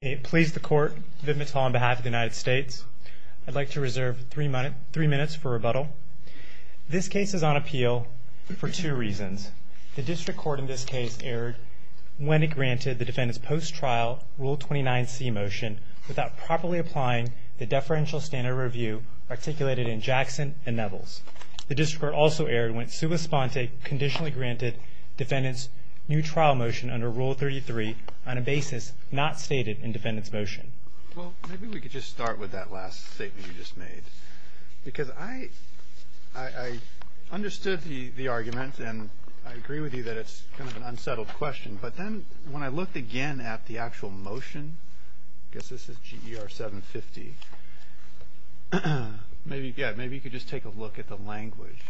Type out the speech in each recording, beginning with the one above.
It pleases the court, Viv Mittal on behalf of the United States. I'd like to reserve three minutes for rebuttal. This case is on appeal for two reasons. The district court in this case erred when it granted the defendant's post-trial Rule 29C motion without properly applying the deferential standard review articulated in Jackson and Nevels. The district court also erred when Sula Sponte conditionally granted the defendant's new trial motion under Rule 33 on a basis not stated in defendant's motion. Well, maybe we could just start with that last statement you just made. Because I understood the argument and I agree with you that it's kind of an unsettled question, but then when I looked again at the actual motion, I guess this is GER 750, maybe you could just take a look at the language.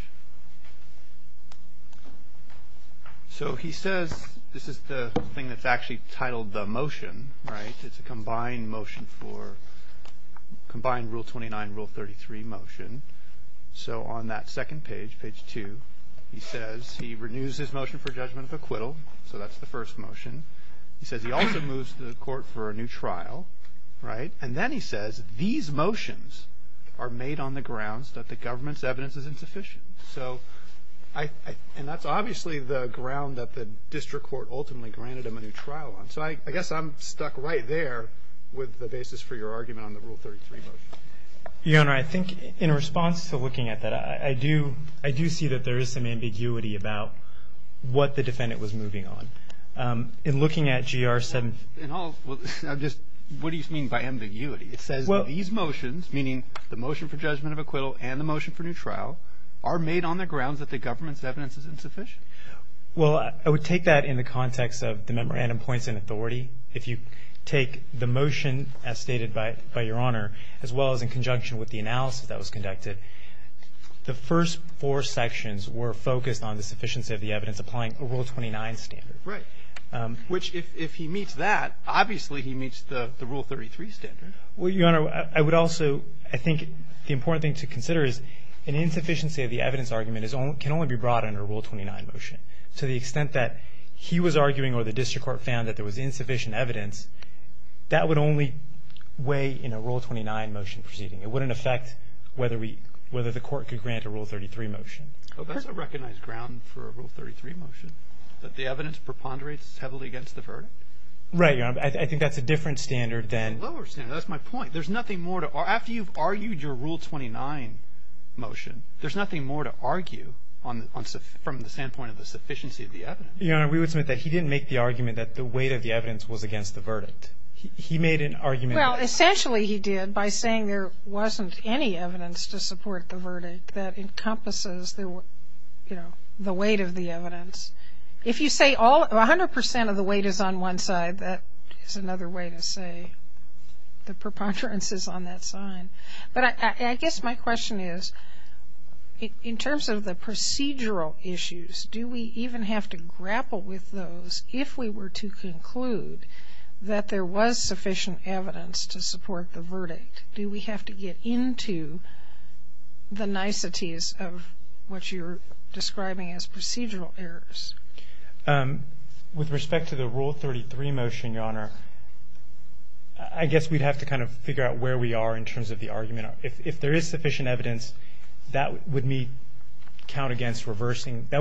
So he says, this is the thing that's actually titled the motion, right? It's a combined motion for, combined Rule 29 and Rule 33 motion. So on that second page, page two, he says he renews his motion for judgment of acquittal, so that's the first motion. He says he also moves to the court for a new trial, right? And then he says, these motions are made on the grounds that the government's evidence is insufficient. And that's obviously the ground that the district court ultimately granted him a new trial on. So I guess I'm stuck right there with the basis for your argument on the Rule 33 motion. Your Honor, I think in response to looking at that, I do see that there is some ambiguity about what the defendant was moving on. In looking at GER 750. What do you mean by ambiguity? It says these motions, meaning the motion for judgment of acquittal and the motion for new trial, are made on the grounds that the government's evidence is insufficient. Well, I would take that in the context of the memorandum points in authority. If you take the motion as stated by Your Honor, as well as in conjunction with the analysis that was conducted, the first four sections were focused on the sufficiency of the evidence applying a Rule 29 standard. Right. Which, if he meets that, obviously he meets the Rule 33 standard. Well, Your Honor, I would also, I think the important thing to consider is an insufficiency of the evidence argument can only be brought under a Rule 29 motion. To the extent that he was arguing or the district court found that there was insufficient evidence, that would only weigh in a Rule 29 motion proceeding. It wouldn't affect whether the court could grant a Rule 33 motion. Well, that's a recognized ground for a Rule 33 motion, that the evidence preponderates heavily against the verdict. Right, Your Honor. I think that's a different standard than... A lower standard. That's my point. There's nothing more to argue. After you've argued your Rule 29 motion, there's nothing more to argue from the standpoint of the sufficiency of the evidence. Your Honor, we would submit that he didn't make the argument that the weight of the evidence was against the verdict. He made an argument... Well, essentially he did by saying there wasn't any evidence to support the verdict that encompasses the weight of the evidence. If you say 100% of the weight is on one side, that is another way to say the preponderance is on that side. But I guess my question is, in terms of the procedural issues, do we even have to grapple with those if we were to conclude that there was sufficient evidence to support the verdict? Do we have to get into the niceties of what you're describing as procedural errors? With respect to the Rule 33 motion, Your Honor, I guess we'd have to kind of figure out where we are in terms of the argument. If there is sufficient evidence, that would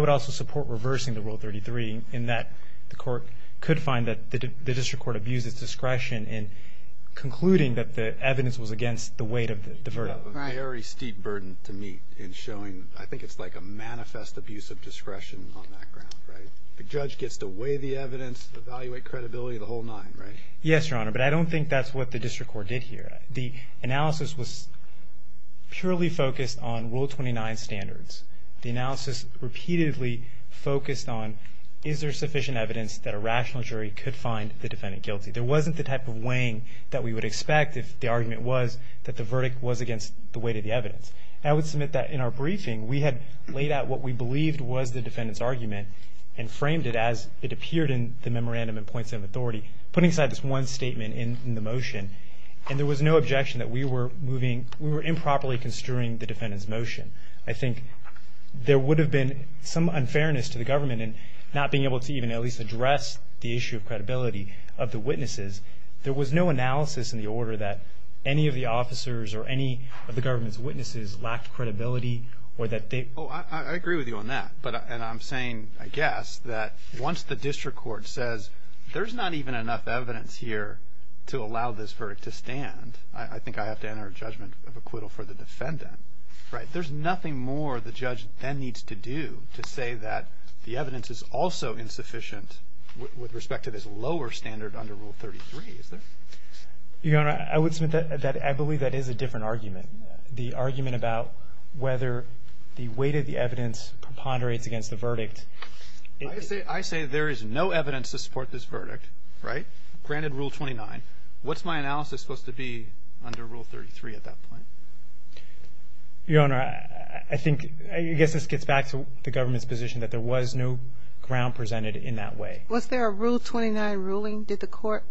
also support reversing the Rule 33, in that the court could find that the district court abuses discretion in concluding that the evidence was against the weight of the verdict. You have a very steep burden to meet in showing... I think it's like a manifest abuse of discretion on that ground, right? The judge gets to weigh the evidence, evaluate credibility, the whole nine, right? Yes, Your Honor, but I don't think that's what the district court did here. The analysis was purely focused on Rule 29 standards. The analysis repeatedly focused on, is there sufficient evidence that a rational jury could find the defendant guilty? There wasn't the type of weighing that we would expect if the argument was that the verdict was against the weight of the evidence. I would submit that in our briefing, we had laid out what we believed was the defendant's argument and framed it as it appeared in the memorandum in points of authority, putting aside this one statement in the motion. And there was no objection that we were moving, we were improperly construing the defendant's motion. I think there would have been some unfairness to the government in not being able to even at least address the issue of credibility of the witnesses. There was no analysis in the order that any of the officers or any of the government's witnesses lacked credibility or that they... Oh, I agree with you on that. And I'm saying, I guess, that once the district court says there's not even enough evidence here to allow this verdict to stand, I think I have to enter a judgment of acquittal for the defendant, right? There's nothing more the judge then needs to do to say that the evidence is also insufficient with respect to this lower standard under Rule 33, is there? Your Honor, I would submit that I believe that is a different argument. The argument about whether the weight of the evidence preponderates against the verdict. I say there is no evidence to support this verdict, right? Granted Rule 29. What's my analysis supposed to be under Rule 33 at that point? Your Honor, I think, I guess this gets back to the government's position that there was no ground presented in that way. Was there a Rule 29 ruling? Did the court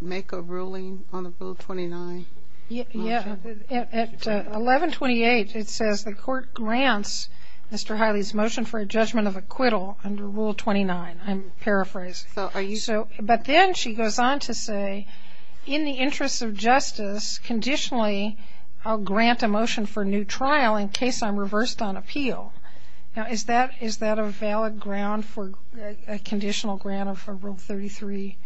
make a ruling on the Rule 29? Yeah. At 1128, it says the court grants Mr. Hiley's motion for a judgment of acquittal under Rule 29. I'm paraphrasing. But then she goes on to say, in the interest of justice, conditionally, I'll grant a motion for new trial in case I'm reversed on appeal. Now, is that a valid ground for a conditional grant of Rule 33?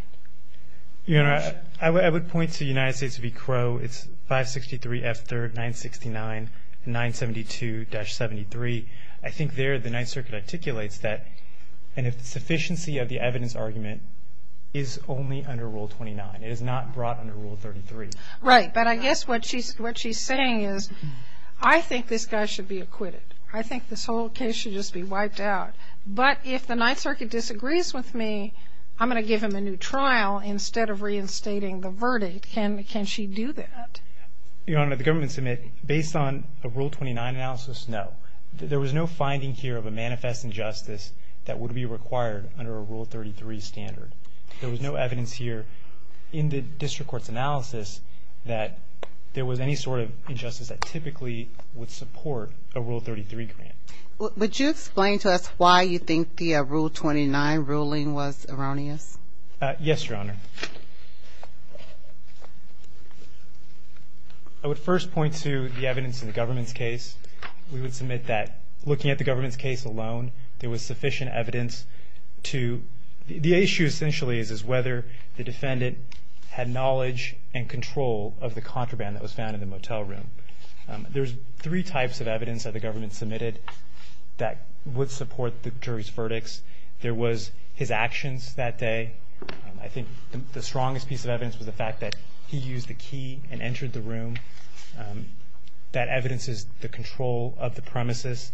Your Honor, I would point to the United States v. Crow. It's 563 F3rd 969 972-73. I think there the Ninth Circuit articulates that, and if the sufficiency of the evidence argument is only under Rule 29. It is not brought under Rule 33. Right. But I guess what she's saying is, I think this guy should be acquitted. I think this whole case should just be wiped out. But if the Ninth Circuit disagrees with me, I'm going to give him a new trial instead of reinstating the verdict. Can she do that? Your Honor, the government submit, based on a Rule 29 analysis, no. There was no finding here of a manifest injustice that would be required under a Rule 33 standard. There was no evidence here in the district court's analysis that there was any sort of injustice that typically would support a Rule 33 grant. Would you explain to us why you think the Rule 29 ruling was erroneous? Yes, Your Honor. I would first point to the evidence in the government's case. We would submit that, looking at the government's case alone, there was sufficient evidence to... The issue essentially is whether the defendant had knowledge and control of the contraband that was found in the motel room. There's three types of evidence that the government submitted that would support the jury's verdicts. There was his actions that day. I think the strongest piece of evidence was the fact that he used the key and entered the room. That evidence is the control of the premises.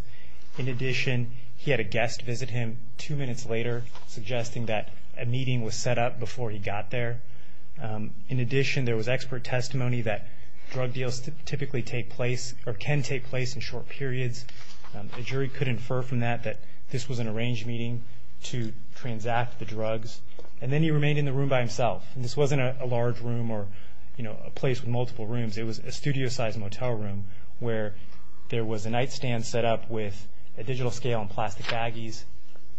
In addition, he had a guest visit him two minutes later, suggesting that a meeting was set up before he got there. In addition, there was expert testimony that drug deals typically take place or can take place in short periods. The jury could infer from that that this was an arranged meeting to transact the drugs. And then he remained in the room by himself. This wasn't a large room or a place with multiple rooms. It was a studio-sized motel room where there was a nightstand set up with a digital scale and plastic baggies.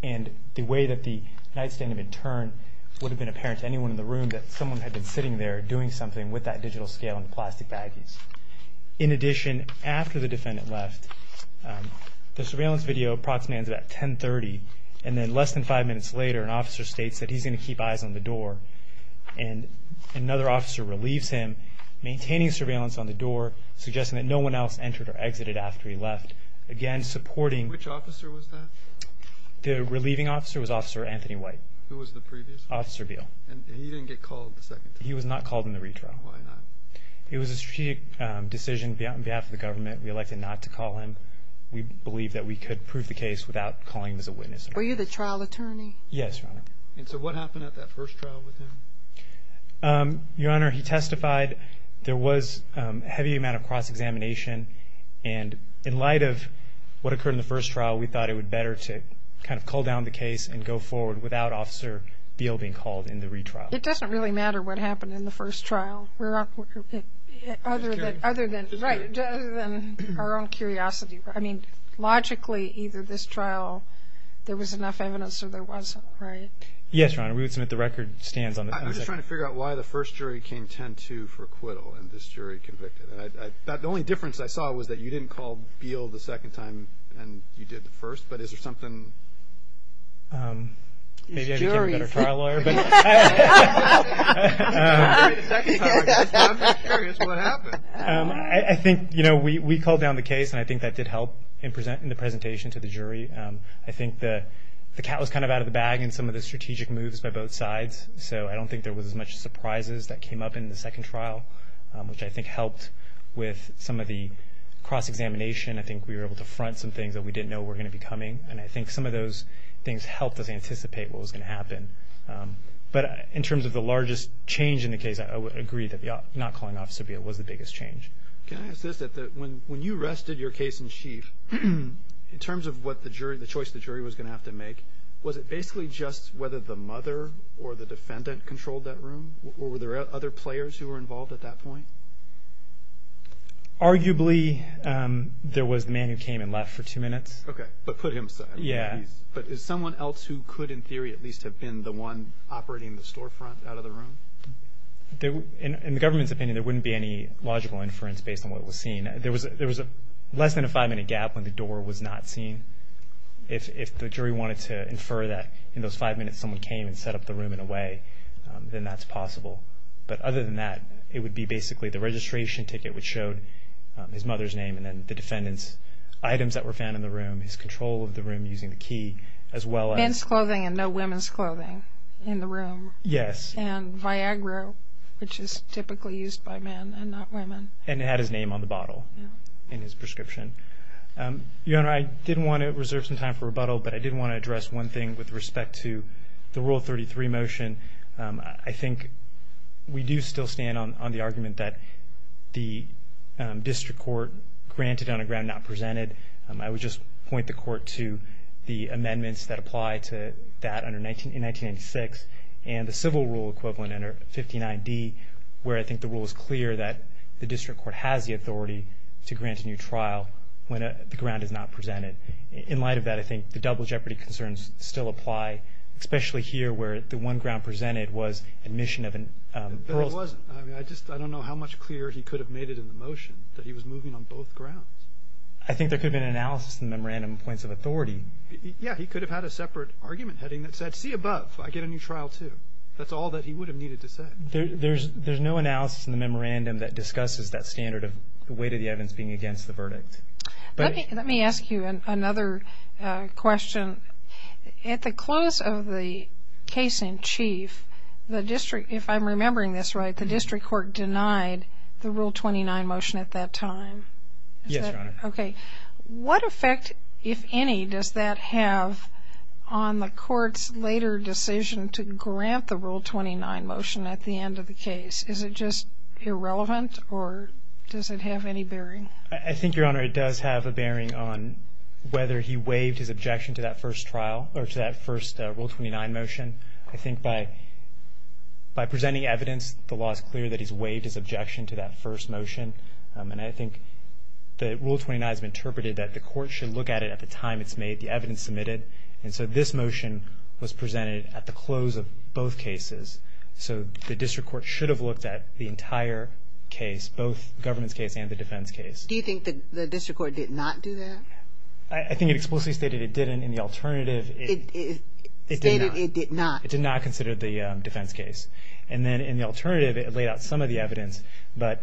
And the way that the nightstand had been turned would have been apparent to anyone in the room that someone had been sitting there doing something with that digital scale and plastic baggies. In addition, after the defendant left, the surveillance video approximately ends about 10.30. And then less than five minutes later, an officer states that he's going to keep eyes on the door. And another officer relieves him, maintaining surveillance on the door, suggesting that no one else entered or exited after he left. Which officer was that? The relieving officer was Officer Anthony White. Who was the previous one? Officer Beal. And he didn't get called the second time? He was not called in the retrial. Why not? It was a strategic decision on behalf of the government. We elected not to call him. We believed that we could prove the case without calling him as a witness. Were you the trial attorney? Yes, Your Honor. And so what happened at that first trial with him? Your Honor, he testified. There was a heavy amount of cross-examination. And in light of what occurred in the first trial, we thought it would be better to kind of cull down the case and go forward without Officer Beal being called in the retrial. It doesn't really matter what happened in the first trial, other than our own curiosity. I mean, logically, either this trial, there was enough evidence or there wasn't, right? Yes, Your Honor. We would submit the record stands on the second trial. I'm just trying to figure out why the first jury came 10-2 for acquittal and this jury convicted. The only difference I saw was that you didn't call Beal the second time and you did the first. But is there something? Maybe I became a better trial lawyer. I think, you know, we culled down the case, and I think that did help in the presentation to the jury. I think the cat was kind of out of the bag in some of the strategic moves by both sides. So I don't think there was as much surprises that came up in the second trial, which I think helped with some of the cross-examination. I think we were able to front some things that we didn't know were going to be coming, and I think some of those things helped us anticipate what was going to happen. But in terms of the largest change in the case, I would agree that not calling Officer Beal was the biggest change. Can I ask this? When you rested your case in chief, in terms of the choice the jury was going to have to make, was it basically just whether the mother or the defendant controlled that room, or were there other players who were involved at that point? Arguably, there was the man who came and left for two minutes. Okay, but put him aside. Yeah. But is someone else who could in theory at least have been the one operating the storefront out of the room? In the government's opinion, there wouldn't be any logical inference based on what was seen. There was less than a five-minute gap when the door was not seen. If the jury wanted to infer that in those five minutes someone came and set up the room in a way, then that's possible. But other than that, it would be basically the registration ticket which showed his mother's name and then the defendant's items that were found in the room, his control of the room using the key, as well as- Men's clothing and no women's clothing in the room. Yes. And Viagra, which is typically used by men and not women. And it had his name on the bottle in his prescription. Your Honor, I did want to reserve some time for rebuttal, but I did want to address one thing with respect to the Rule 33 motion. I think we do still stand on the argument that the district court granted on a ground not presented. I would just point the court to the amendments that apply to that in 1996 and the civil rule equivalent under 59D, where I think the rule is clear that the district court has the authority to grant a new trial when the ground is not presented. In light of that, I think the double jeopardy concerns still apply, especially here where the one ground presented was admission of an- But it wasn't. I mean, I just don't know how much clearer he could have made it in the motion that he was moving on both grounds. I think there could have been an analysis in the memorandum of points of authority. Yes. He could have had a separate argument heading that said, see above, I get a new trial too. That's all that he would have needed to say. There's no analysis in the memorandum that discusses that standard of the weight of the evidence being against the verdict. Let me ask you another question. At the close of the case in chief, if I'm remembering this right, the district court denied the Rule 29 motion at that time. Yes, Your Honor. Okay. What effect, if any, does that have on the court's later decision to grant the Rule 29 motion at the end of the case? Is it just irrelevant or does it have any bearing? I think, Your Honor, it does have a bearing on whether he waived his objection to that first trial or to that first Rule 29 motion. I think by presenting evidence, the law is clear that he's waived his objection to that first motion. And I think the Rule 29 has been interpreted that the court should look at it at the time it's made, the evidence submitted. And so this motion was presented at the close of both cases. So the district court should have looked at the entire case, both government's case and the defense case. Do you think the district court did not do that? I think it explicitly stated it didn't. In the alternative, it did not. It stated it did not. It did not consider the defense case. And then in the alternative, it laid out some of the evidence. But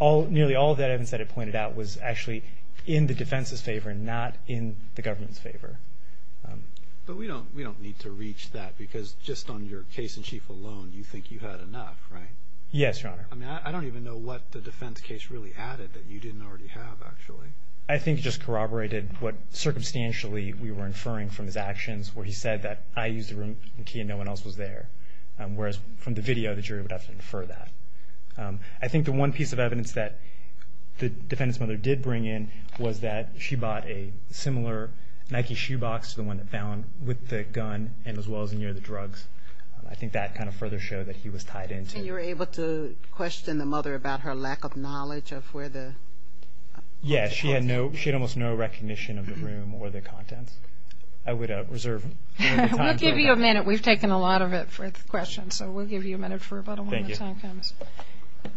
nearly all of that evidence that it pointed out was actually in the defense's favor and not in the government's favor. But we don't need to reach that because just on your case in chief alone, you think you had enough, right? Yes, Your Honor. I mean, I don't even know what the defense case really added that you didn't already have, actually. I think it just corroborated what circumstantially we were inferring from his actions where he said that I used the room key and no one else was there, whereas from the video, the jury would have to infer that. I think the one piece of evidence that the defendant's mother did bring in was that she bought a similar Nike shoebox to the one found with the gun and as well as near the drugs. I think that kind of further showed that he was tied into it. And you were able to question the mother about her lack of knowledge of where the... Yes, she had almost no recognition of the room or the contents. I would reserve time for that. We'll give you a minute. We've taken a lot of it for questions, so we'll give you a minute for about a moment. Thank you.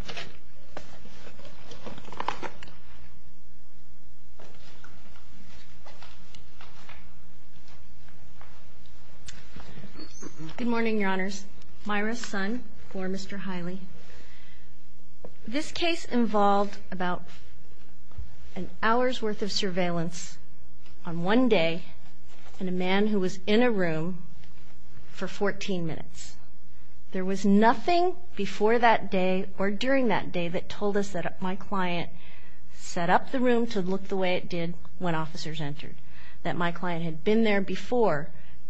Good morning, Your Honors. Myra Sun for Mr. Hiley. This case involved about an hour's worth of surveillance on one day and a man who was in a room for 14 minutes. There was nothing before that day or during that day that told us that my client set up the room to look the way it did when officers entered, that my client had been there before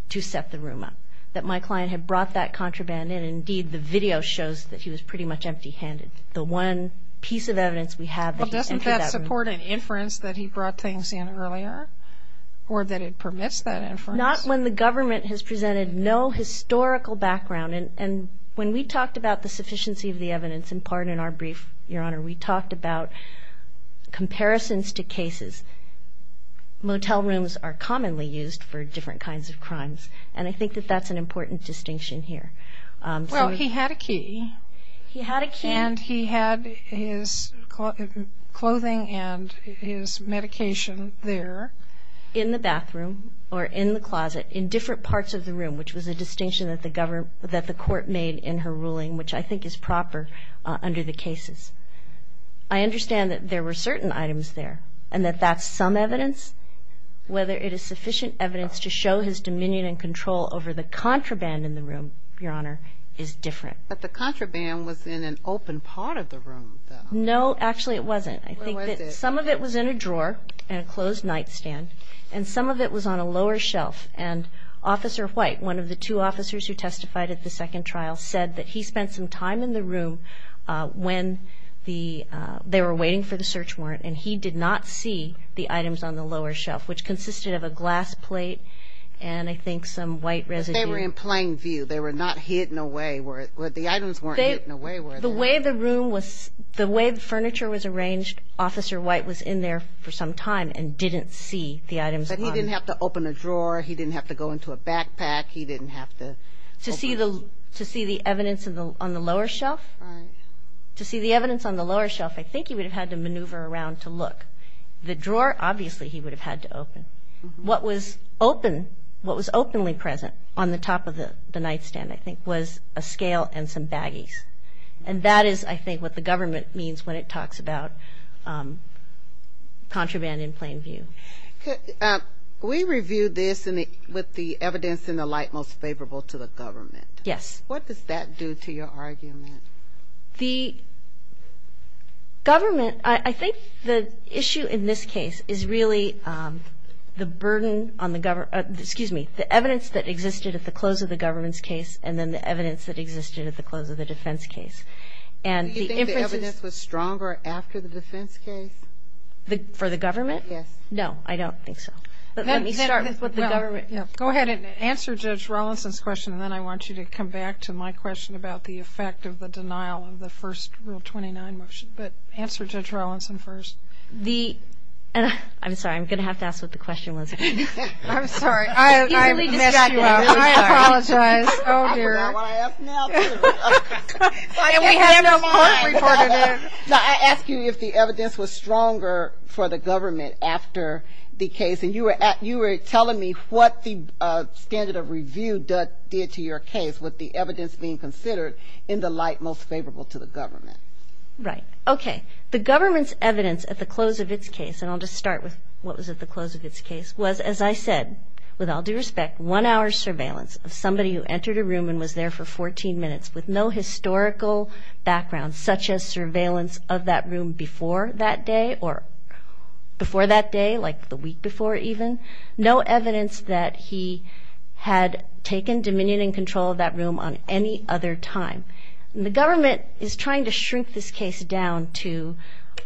to set the room up, that my client had brought that contraband in, and indeed the video shows that he was pretty much empty-handed. The one piece of evidence we have... But doesn't that support an inference that he brought things in earlier or that it permits that inference? Not when the government has presented no historical background. And when we talked about the sufficiency of the evidence, in part in our brief, Your Honor, we talked about comparisons to cases. Motel rooms are commonly used for different kinds of crimes, and I think that that's an important distinction here. Well, he had a key. He had a key. And he had his clothing and his medication there. In the bathroom or in the closet, in different parts of the room, which was a distinction that the court made in her ruling, which I think is proper under the cases. I understand that there were certain items there and that that's some evidence. Whether it is sufficient evidence to show his dominion and control over the contraband in the room, Your Honor, is different. But the contraband was in an open part of the room, though. No, actually it wasn't. Some of it was in a drawer in a closed nightstand, and some of it was on a lower shelf. And Officer White, one of the two officers who testified at the second trial, said that he spent some time in the room when they were waiting for the search warrant, and he did not see the items on the lower shelf, which consisted of a glass plate and I think some white residue. But they were in plain view. They were not hidden away. The items weren't hidden away. The way the room was, the way the furniture was arranged, Officer White was in there for some time and didn't see the items. But he didn't have to open a drawer. He didn't have to go into a backpack. He didn't have to open. To see the evidence on the lower shelf? Right. To see the evidence on the lower shelf, I think he would have had to maneuver around to look. The drawer, obviously he would have had to open. What was openly present on the top of the nightstand, I think, was a scale and some baggies. And that is, I think, what the government means when it talks about contraband in plain view. We reviewed this with the evidence in the light most favorable to the government. Yes. What does that do to your argument? The government, I think the issue in this case is really the burden on the government. Excuse me. The evidence that existed at the close of the government's case and then the evidence that existed at the close of the defense case. Do you think the evidence was stronger after the defense case? For the government? Yes. No, I don't think so. Let me start with the government. Go ahead and answer Judge Rawlinson's question, and then I want you to come back to my question about the effect of the denial of the first Rule 29 motion. But answer Judge Rawlinson first. I'm sorry, I'm going to have to ask what the question was. I'm sorry. I apologize. Oh, dear. I forgot what I asked now, too. I asked you if the evidence was stronger for the government after the case, and you were telling me what the standard of review did to your case with the evidence being considered in the light most favorable to the government. Right. Okay. The government's evidence at the close of its case, and I'll just start with what was at the close of its case, was, as I said, with all due respect, one hour's surveillance of somebody who entered a room and was there for 14 minutes with no historical background such as surveillance of that room before that day or before that day, like the week before even, no evidence that he had taken dominion and control of that room on any other time. And the government is trying to shrink this case down to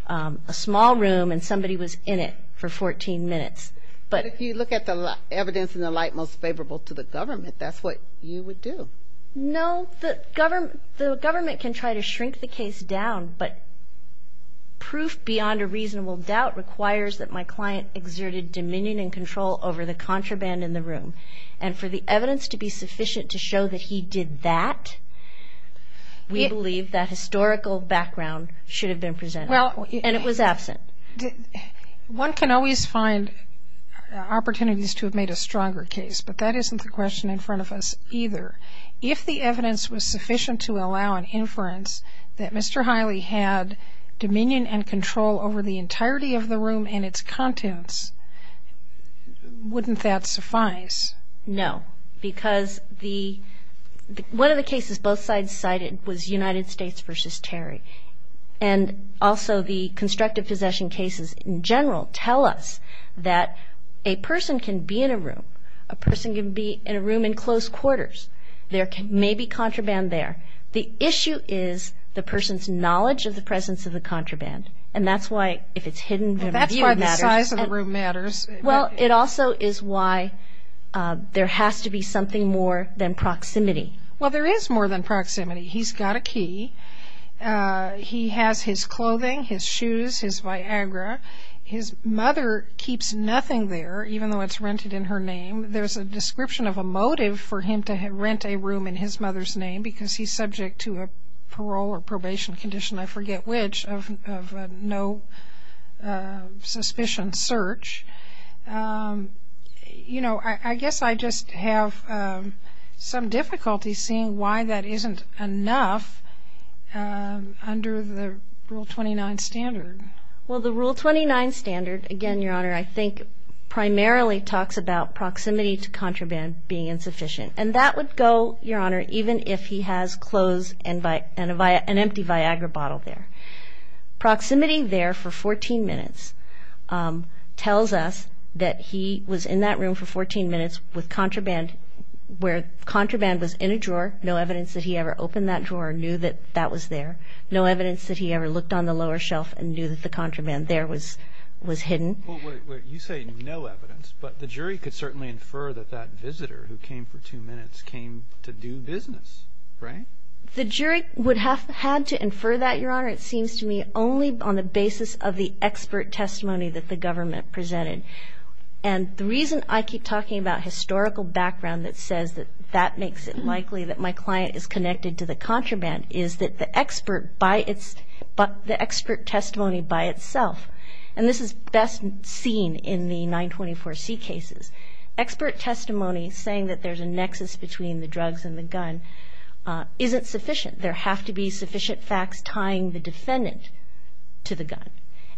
a small room and somebody was in it for 14 minutes. But if you look at the evidence in the light most favorable to the government, that's what you would do. No, the government can try to shrink the case down, but proof beyond a reasonable doubt requires that my client exerted dominion and control over the contraband in the room. And for the evidence to be sufficient to show that he did that, we believe that historical background should have been presented. And it was absent. One can always find opportunities to have made a stronger case, but that isn't the question in front of us either. If the evidence was sufficient to allow an inference that Mr. Hiley had dominion and control over the entirety of the room and its contents, wouldn't that suffice? No, because one of the cases both sides cited was United States v. Terry. And also the constructive possession cases in general tell us that a person can be in a room, a person can be in a room in close quarters. There may be contraband there. The issue is the person's knowledge of the presence of the contraband. And that's why, if it's hidden, the view matters. That's why the size of the room matters. Well, it also is why there has to be something more than proximity. Well, there is more than proximity. He's got a key. He has his clothing, his shoes, his Viagra. His mother keeps nothing there, even though it's rented in her name. There's a description of a motive for him to rent a room in his mother's name because he's subject to a parole or probation condition, I forget which, of no suspicion search. You know, I guess I just have some difficulty seeing why that isn't enough under the Rule 29 standard. Well, the Rule 29 standard, again, Your Honor, I think primarily talks about proximity to contraband being insufficient. And that would go, Your Honor, even if he has clothes and an empty Viagra bottle there. Proximity there for 14 minutes tells us that he was in that room for 14 minutes with contraband, where contraband was in a drawer. No evidence that he ever opened that drawer or knew that that was there. No evidence that he ever looked on the lower shelf and knew that the contraband there was hidden. Well, wait, wait, you say no evidence, but the jury could certainly infer that that visitor who came for two minutes came to do business, right? The jury would have had to infer that, Your Honor, it seems to me, only on the basis of the expert testimony that the government presented. And the reason I keep talking about historical background that says that that makes it likely that my client is connected to the contraband is that the expert testimony by itself, and this is best seen in the 924C cases, expert testimony saying that there's a nexus between the drugs and the gun isn't sufficient. There have to be sufficient facts tying the defendant to the gun.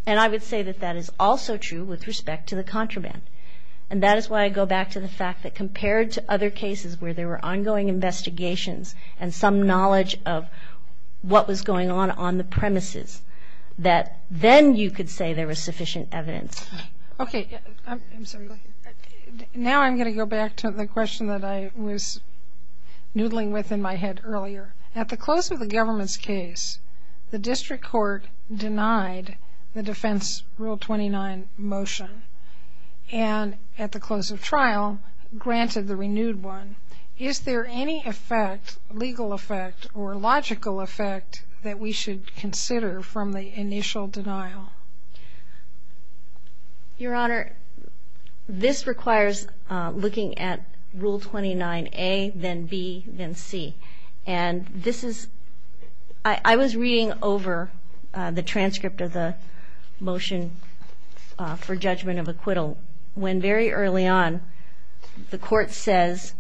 And I would say that that is also true with respect to the contraband. And that is why I go back to the fact that compared to other cases where there were ongoing investigations and some knowledge of what was going on on the premises, that then you could say there was sufficient evidence. Okay. Now I'm going to go back to the question that I was noodling with in my head earlier. Your Honor, at the close of the government's case, the district court denied the defense Rule 29 motion. And at the close of trial, granted the renewed one. Is there any effect, legal effect or logical effect, that we should consider from the initial denial? Your Honor, this requires looking at Rule 29A, then B, then C. And this is ‑‑ I was reading over the transcript of the motion for judgment of acquittal when very early on the court says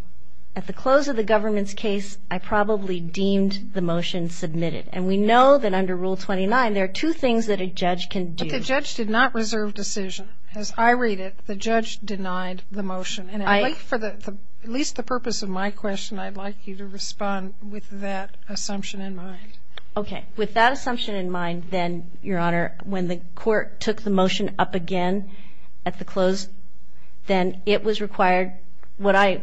at the close of the government's case, I probably deemed the motion submitted. And we know that under Rule 29, there are two things that a judge can do. But the judge did not reserve decision. As I read it, the judge denied the motion. And I think for at least the purpose of my question, I'd like you to respond with that assumption in mind. Okay. With that assumption in mind, then, Your Honor, when the court took the motion up again at the close, then it was required. What I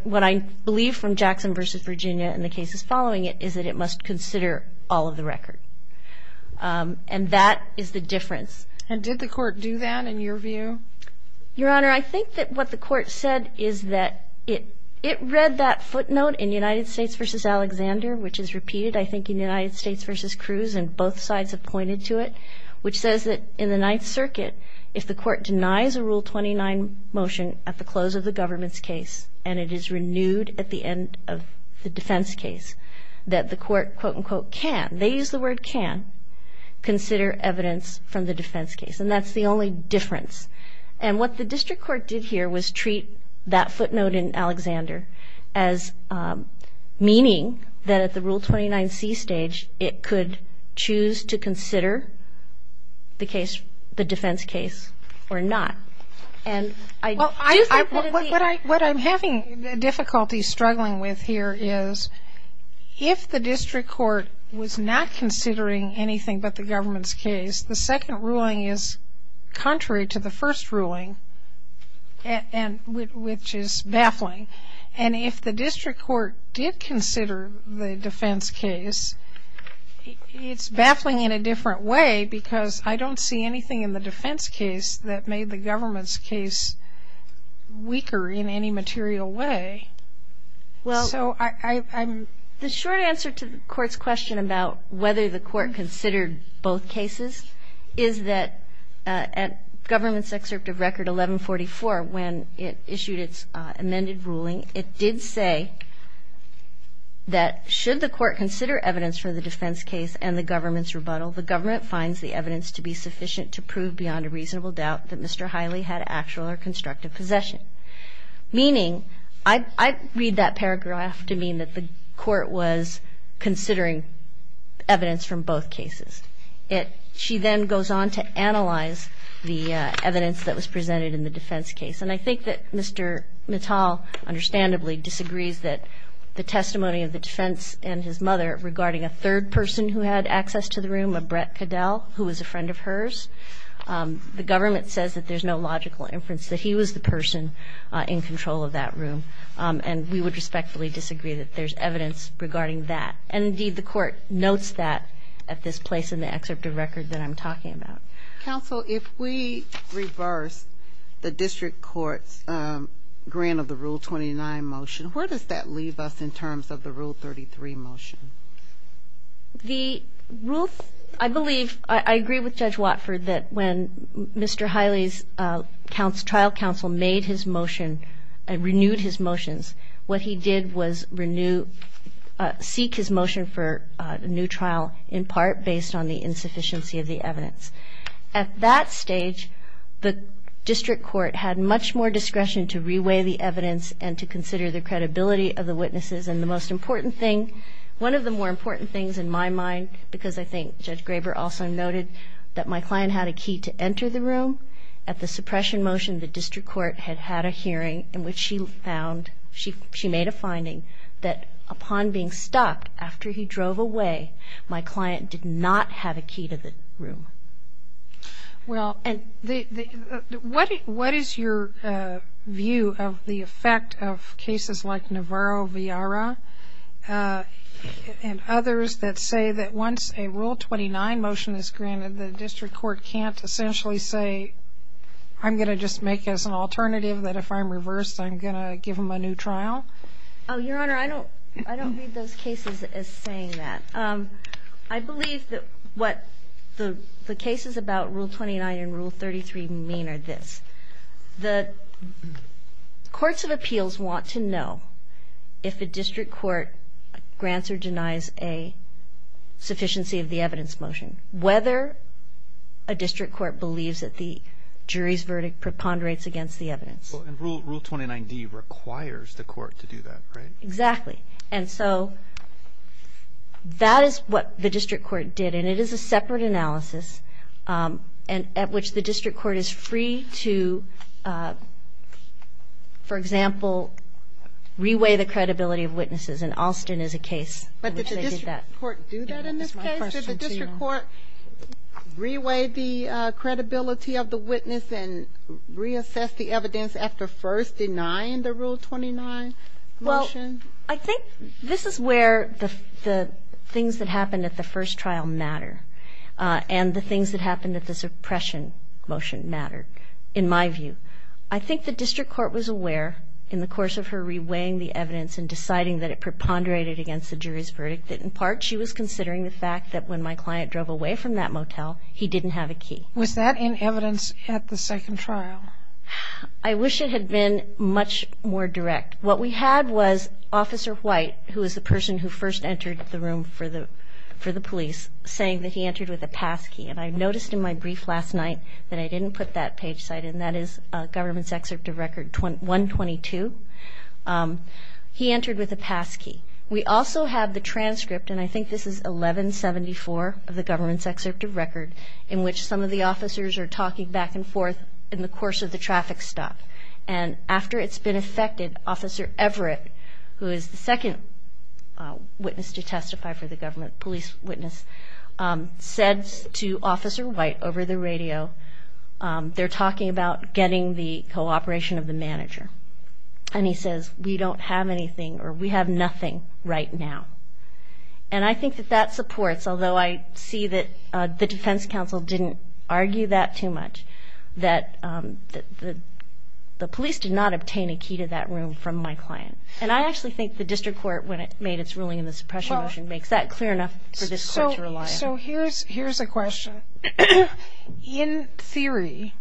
believe from Jackson v. Virginia and the cases following it is that it must consider all of the record. And that is the difference. And did the court do that in your view? Your Honor, I think that what the court said is that it read that footnote in United States v. Alexander, which is repeated, I think, in United States v. Cruz, and both sides have pointed to it, which says that in the Ninth Circuit, if the court denies a Rule 29 motion at the close of the government's case and it is renewed at the end of the defense case, that the court, quote, unquote, can, they use the word can, consider evidence from the defense case. And that's the only difference. And what the district court did here was treat that footnote in Alexander as meaning that at the Rule 29C stage, it could choose to consider the case, the defense case or not. What I'm having difficulty struggling with here is, if the district court was not considering anything but the government's case, the second ruling is contrary to the first ruling, which is baffling. And if the district court did consider the defense case, it's baffling in a different way because I don't see anything in the defense case that made the government's case weaker in any material way. So I'm ‑‑ Well, the short answer to the court's question about whether the court considered both cases is that at government's excerpt of Record 1144, when it issued its amended ruling, it did say that should the court consider evidence for the defense case and the government's rebuttal, the government finds the evidence to be sufficient to prove beyond a reasonable doubt that Mr. Hiley had actual or constructive possession. Meaning, I read that paragraph to mean that the court was considering evidence from both cases. It ‑‑ she then goes on to analyze the evidence that was presented in the defense case. And I think that Mr. Mittal understandably disagrees that the testimony of the defense and his mother regarding a third person who had access to the room, a Brett Caddell, who was a friend of hers, the government says that there's no logical inference that he was the person in control of that room. And we would respectfully disagree that there's evidence regarding that. And, indeed, the court notes that at this place in the excerpt of Record that I'm talking about. Counsel, if we reverse the district court's grant of the Rule 29 motion, where does that leave us in terms of the Rule 33 motion? The Rule ‑‑ I believe, I agree with Judge Watford that when Mr. Hiley's trial counsel made his motion and renewed his motions, what he did was renew, seek his motion for a new trial, in part based on the insufficiency of the evidence. At that stage, the district court had much more discretion to reweigh the evidence and to consider the credibility of the witnesses. And the most important thing, one of the more important things in my mind, because I think Judge Graber also noted that my client had a key to enter the room, at the suppression motion the district court had had a hearing in which she found, she made a finding that upon being stopped after he drove away, my client did not have a key to the room. Well, what is your view of the effect of cases like Navarro-Villara and others that say that once a Rule 29 motion is granted, the district court can't essentially say, I'm going to just make as an alternative that if I'm reversed, I'm going to give him a new trial? Oh, Your Honor, I don't read those cases as saying that. I believe that what the cases about Rule 29 and Rule 33 mean are this. The courts of appeals want to know if a district court grants or denies a sufficiency of the evidence motion, whether a district court believes that the jury's verdict preponderates against the evidence. And Rule 29d requires the court to do that, right? Exactly. And so that is what the district court did, and it is a separate analysis at which the district court is free to, for example, reweigh the credibility of witnesses, and Alston is a case in which they did that. But did the district court do that in this case? Did the district court reweigh the credibility of the witness and reassess the evidence after first denying the Rule 29 motion? Well, I think this is where the things that happened at the first trial matter and the things that happened at the suppression motion mattered, in my view. I think the district court was aware in the course of her reweighing the evidence and deciding that it preponderated against the jury's verdict that in part she was considering the fact that when my client drove away from that motel, he didn't have a key. Was that in evidence at the second trial? I wish it had been much more direct. What we had was Officer White, who was the person who first entered the room for the police, saying that he entered with a pass key. And I noticed in my brief last night that I didn't put that page cited, and that is Government's Excerpt of Record 122. He entered with a pass key. We also have the transcript, and I think this is 1174 of the Government's Excerpt of Record, in which some of the officers are talking back and forth in the course of the traffic stop. And after it's been effected, Officer Everett, who is the second witness to testify for the Government, police witness, said to Officer White over the radio, they're talking about getting the cooperation of the manager. And he says, we don't have anything or we have nothing right now. And I think that that supports, although I see that the defense counsel didn't argue that too much, that the police did not obtain a key to that room from my client. And I actually think the district court, when it made its ruling in the suppression motion, makes that clear enough for this court to rely on. So here's a question. In theory,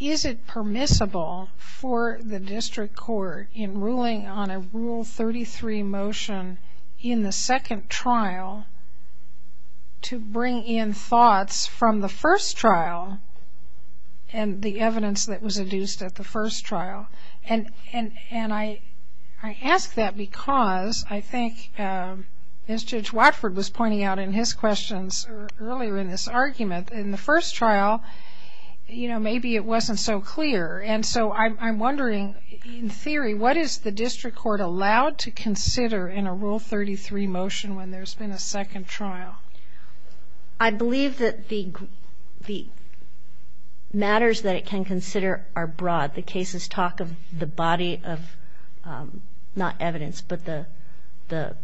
is it permissible for the district court, in ruling on a Rule 33 motion in the second trial, to bring in thoughts from the first trial and the evidence that was induced at the first trial? And I ask that because I think, as Judge Watford was pointing out in his questions earlier in this argument, in the first trial, you know, maybe it wasn't so clear. And so I'm wondering, in theory, what is the district court allowed to consider in a Rule 33 motion when there's been a second trial? I believe that the matters that it can consider are broad. The cases talk of the body of not evidence, but the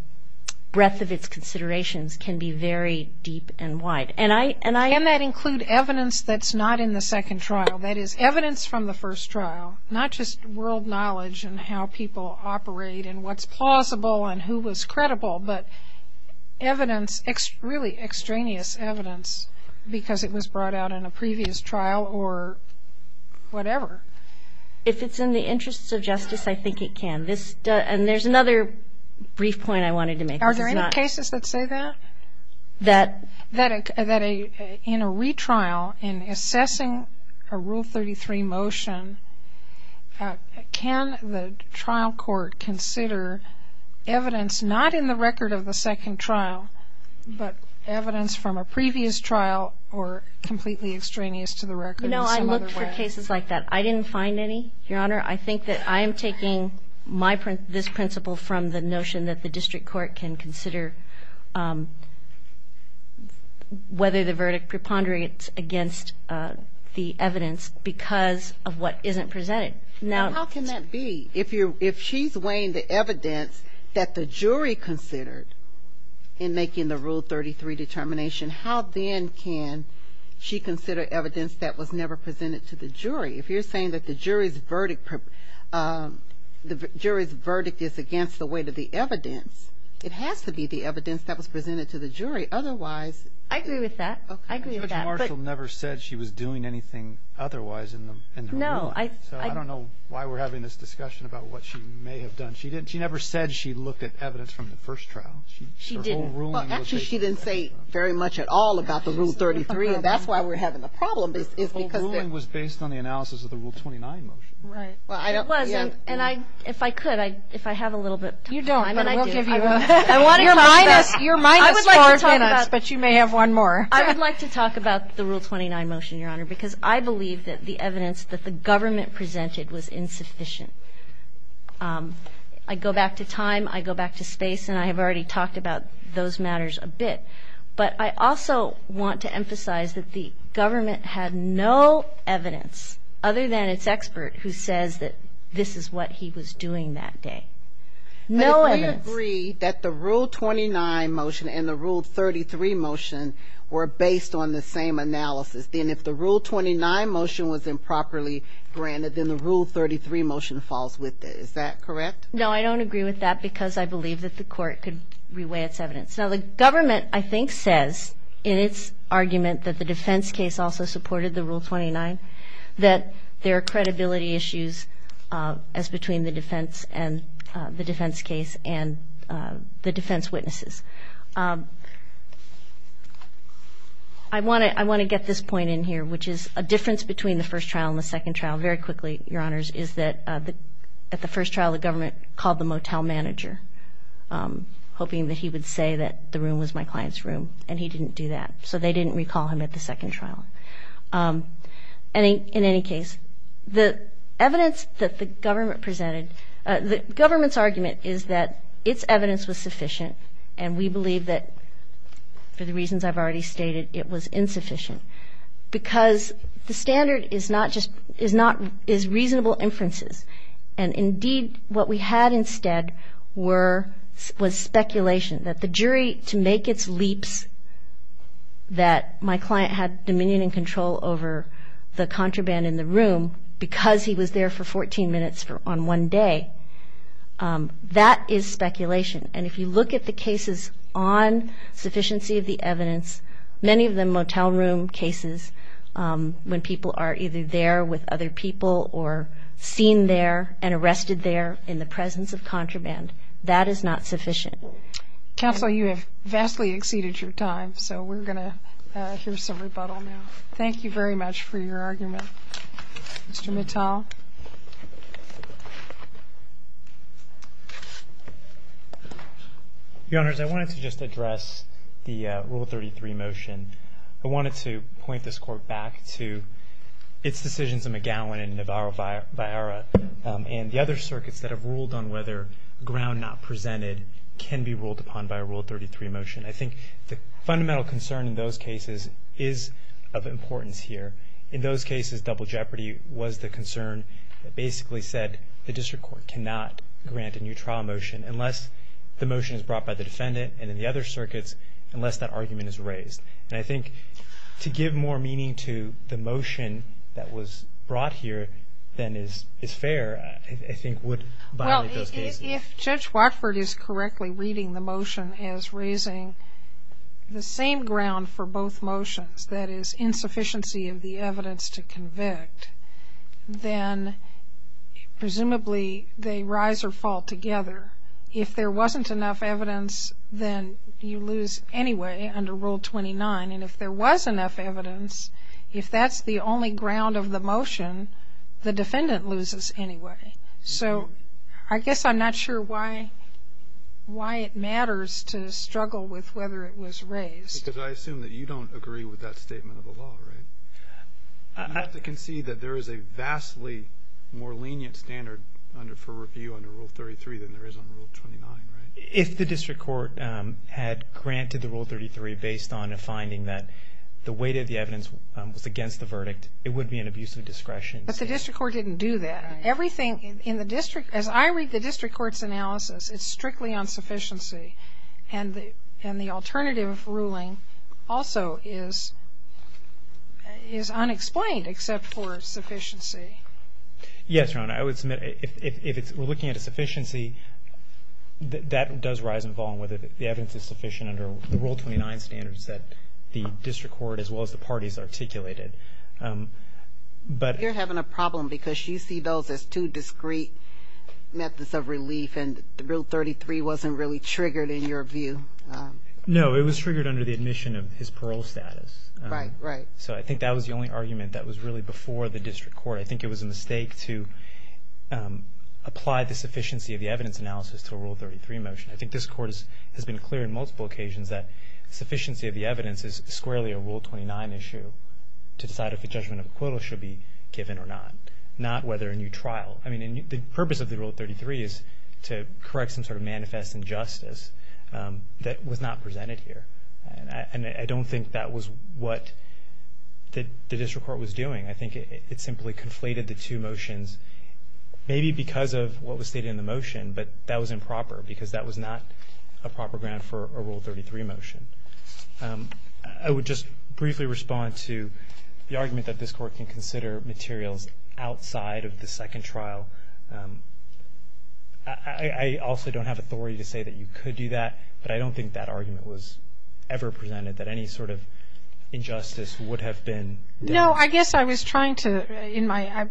breadth of its considerations can be very deep and wide. Can that include evidence that's not in the second trial? That is, evidence from the first trial, not just world knowledge and how people operate and what's plausible and who was credible, but evidence, really extraneous evidence, because it was brought out in a previous trial or whatever. If it's in the interests of justice, I think it can. And there's another brief point I wanted to make. Are there any cases that say that? That in a retrial, in assessing a Rule 33 motion, can the trial court consider evidence not in the record of the second trial, but evidence from a previous trial or completely extraneous to the record? No, I looked for cases like that. I didn't find any, Your Honor. I understand that the district court can consider whether the verdict preponderates against the evidence because of what isn't presented. How can that be? If she's weighing the evidence that the jury considered in making the Rule 33 determination, how then can she consider evidence that was never presented to the jury? If you're saying that the jury's verdict is against the weight of the evidence, it has to be the evidence that was presented to the jury. Otherwise ---- I agree with that. I agree with that. Judge Marshall never said she was doing anything otherwise in her ruling. No. So I don't know why we're having this discussion about what she may have done. She never said she looked at evidence from the first trial. She didn't. Well, actually, she didn't say very much at all about the Rule 33, and that's why we're having a problem. The whole ruling was based on the analysis of the Rule 29 motion. Right. Well, I don't ---- It wasn't, and if I could, if I have a little bit of time ---- You don't, but we'll give you a ---- I want to talk about ---- You're minus five minutes, but you may have one more. I would like to talk about the Rule 29 motion, Your Honor, because I believe that the evidence that the government presented was insufficient. I go back to time, I go back to space, and I have already talked about those matters a bit. But I also want to emphasize that the government had no evidence, other than its expert, who says that this is what he was doing that day. No evidence. But if we agree that the Rule 29 motion and the Rule 33 motion were based on the same analysis, then if the Rule 29 motion was improperly granted, then the Rule 33 motion falls with it. Is that correct? No, I don't agree with that because I believe that the court could reweigh its evidence. Now, the government, I think, says in its argument that the defense case also supported the Rule 29, that there are credibility issues as between the defense case and the defense witnesses. I want to get this point in here, which is a difference between the first trial and the second trial. Very quickly, Your Honors, is that at the first trial, the government called the motel manager, hoping that he would say that the room was my client's room, and he didn't do that. So they didn't recall him at the second trial. In any case, the evidence that the government presented, the government's argument is that its evidence was sufficient, and we believe that, for the reasons I've already stated, it was insufficient, because the standard is reasonable inferences. And, indeed, what we had instead was speculation, that the jury, to make its leaps that my client had dominion and control over the contraband in the room, because he was there for 14 minutes on one day, that is speculation. And if you look at the cases on sufficiency of the evidence, many of them motel room cases, when people are either there with other people or seen there and arrested there in the presence of contraband, that is not sufficient. Counsel, you have vastly exceeded your time, so we're going to hear some rebuttal now. Thank you very much for your argument. Mr. Mittal? Your Honors, I wanted to just address the Rule 33 motion. I wanted to point this Court back to its decisions in McGowan and Navarro-Viara and the other circuits that have ruled on whether ground not presented can be ruled upon by a Rule 33 motion. I think the fundamental concern in those cases is of importance here. In those cases, double jeopardy was the concern that basically said the District Court cannot grant a new trial motion unless the motion is brought by the defendant, and in the other circuits, unless that argument is raised. And I think to give more meaning to the motion that was brought here than is fair, I think, would violate those cases. Well, if Judge Watford is correctly reading the motion as raising the same ground for both motions, that is insufficiency of the evidence to convict, then presumably they rise or fall together. If there wasn't enough evidence, then you lose anyway under Rule 29. And if there was enough evidence, if that's the only ground of the motion, the defendant loses anyway. So I guess I'm not sure why it matters to struggle with whether it was raised. Because I assume that you don't agree with that statement of the law, right? I have to concede that there is a vastly more lenient standard for review under Rule 33 than there is under Rule 29, right? If the District Court had granted the Rule 33 based on a finding that the weight of the evidence was against the verdict, it would be an abuse of discretion. But the District Court didn't do that. Right. Everything in the District, as I read the District Court's analysis, it's strictly on sufficiency. And the alternative ruling also is unexplained except for sufficiency. Yes, Your Honor. I would submit if we're looking at a sufficiency, that does rise and fall, whether the evidence is sufficient under the Rule 29 standards that the District Court as well as the parties articulated. You're having a problem because you see those as two discrete methods of relief, and Rule 33 wasn't really triggered in your view. No, it was triggered under the admission of his parole status. Right, right. So I think that was the only argument that was really before the District Court. I think it was a mistake to apply the sufficiency of the evidence analysis to a Rule 33 motion. I think this Court has been clear on multiple occasions that sufficiency of the evidence is squarely a Rule 29 issue to decide if a judgment of acquittal should be given or not, not whether a new trial. I mean, the purpose of the Rule 33 is to correct some sort of manifest injustice that was not presented here. And I don't think that was what the District Court was doing. I think it simply conflated the two motions maybe because of what was stated in the motion, but that was improper because that was not a proper ground for a Rule 33 motion. I would just briefly respond to the argument that this Court can consider materials outside of the second trial. I also don't have authority to say that you could do that, but I don't think that argument was ever presented that any sort of injustice would have been there. No, I guess I was trying to, in my,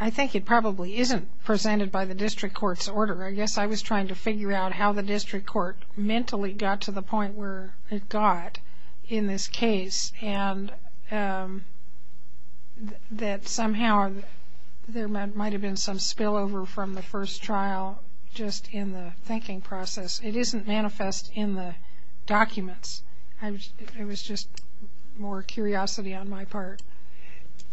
I think it probably isn't presented by the District Court's order. I guess I was trying to figure out how the District Court mentally got to the point where it got in this case and that somehow there might have been some spillover from the first trial just in the thinking process. It isn't manifest in the documents. It was just more curiosity on my part.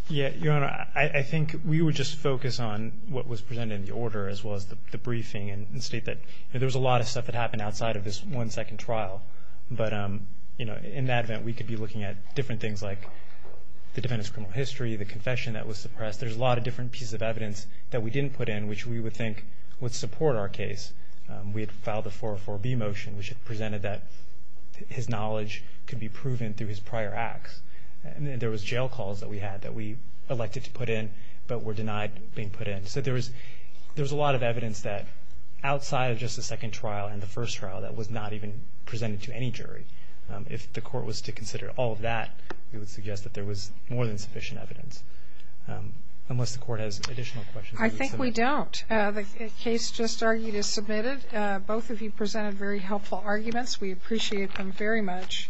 Your Honor, I think we would just focus on what was presented in the order as well as the briefing and state that there was a lot of stuff that happened outside of this one second trial. But in that event, we could be looking at different things like the defendant's criminal history, the confession that was suppressed. There's a lot of different pieces of evidence that we didn't put in which we would think would support our case. We had filed a 404B motion which presented that his knowledge could be proven through his prior acts. There was jail calls that we had that we elected to put in but were denied being put in. So there was a lot of evidence that outside of just the second trial and the first trial that was not even presented to any jury. If the court was to consider all of that, we would suggest that there was more than sufficient evidence. Unless the court has additional questions. I think we don't. The case just argued is submitted. Both of you presented very helpful arguments. We appreciate them very much.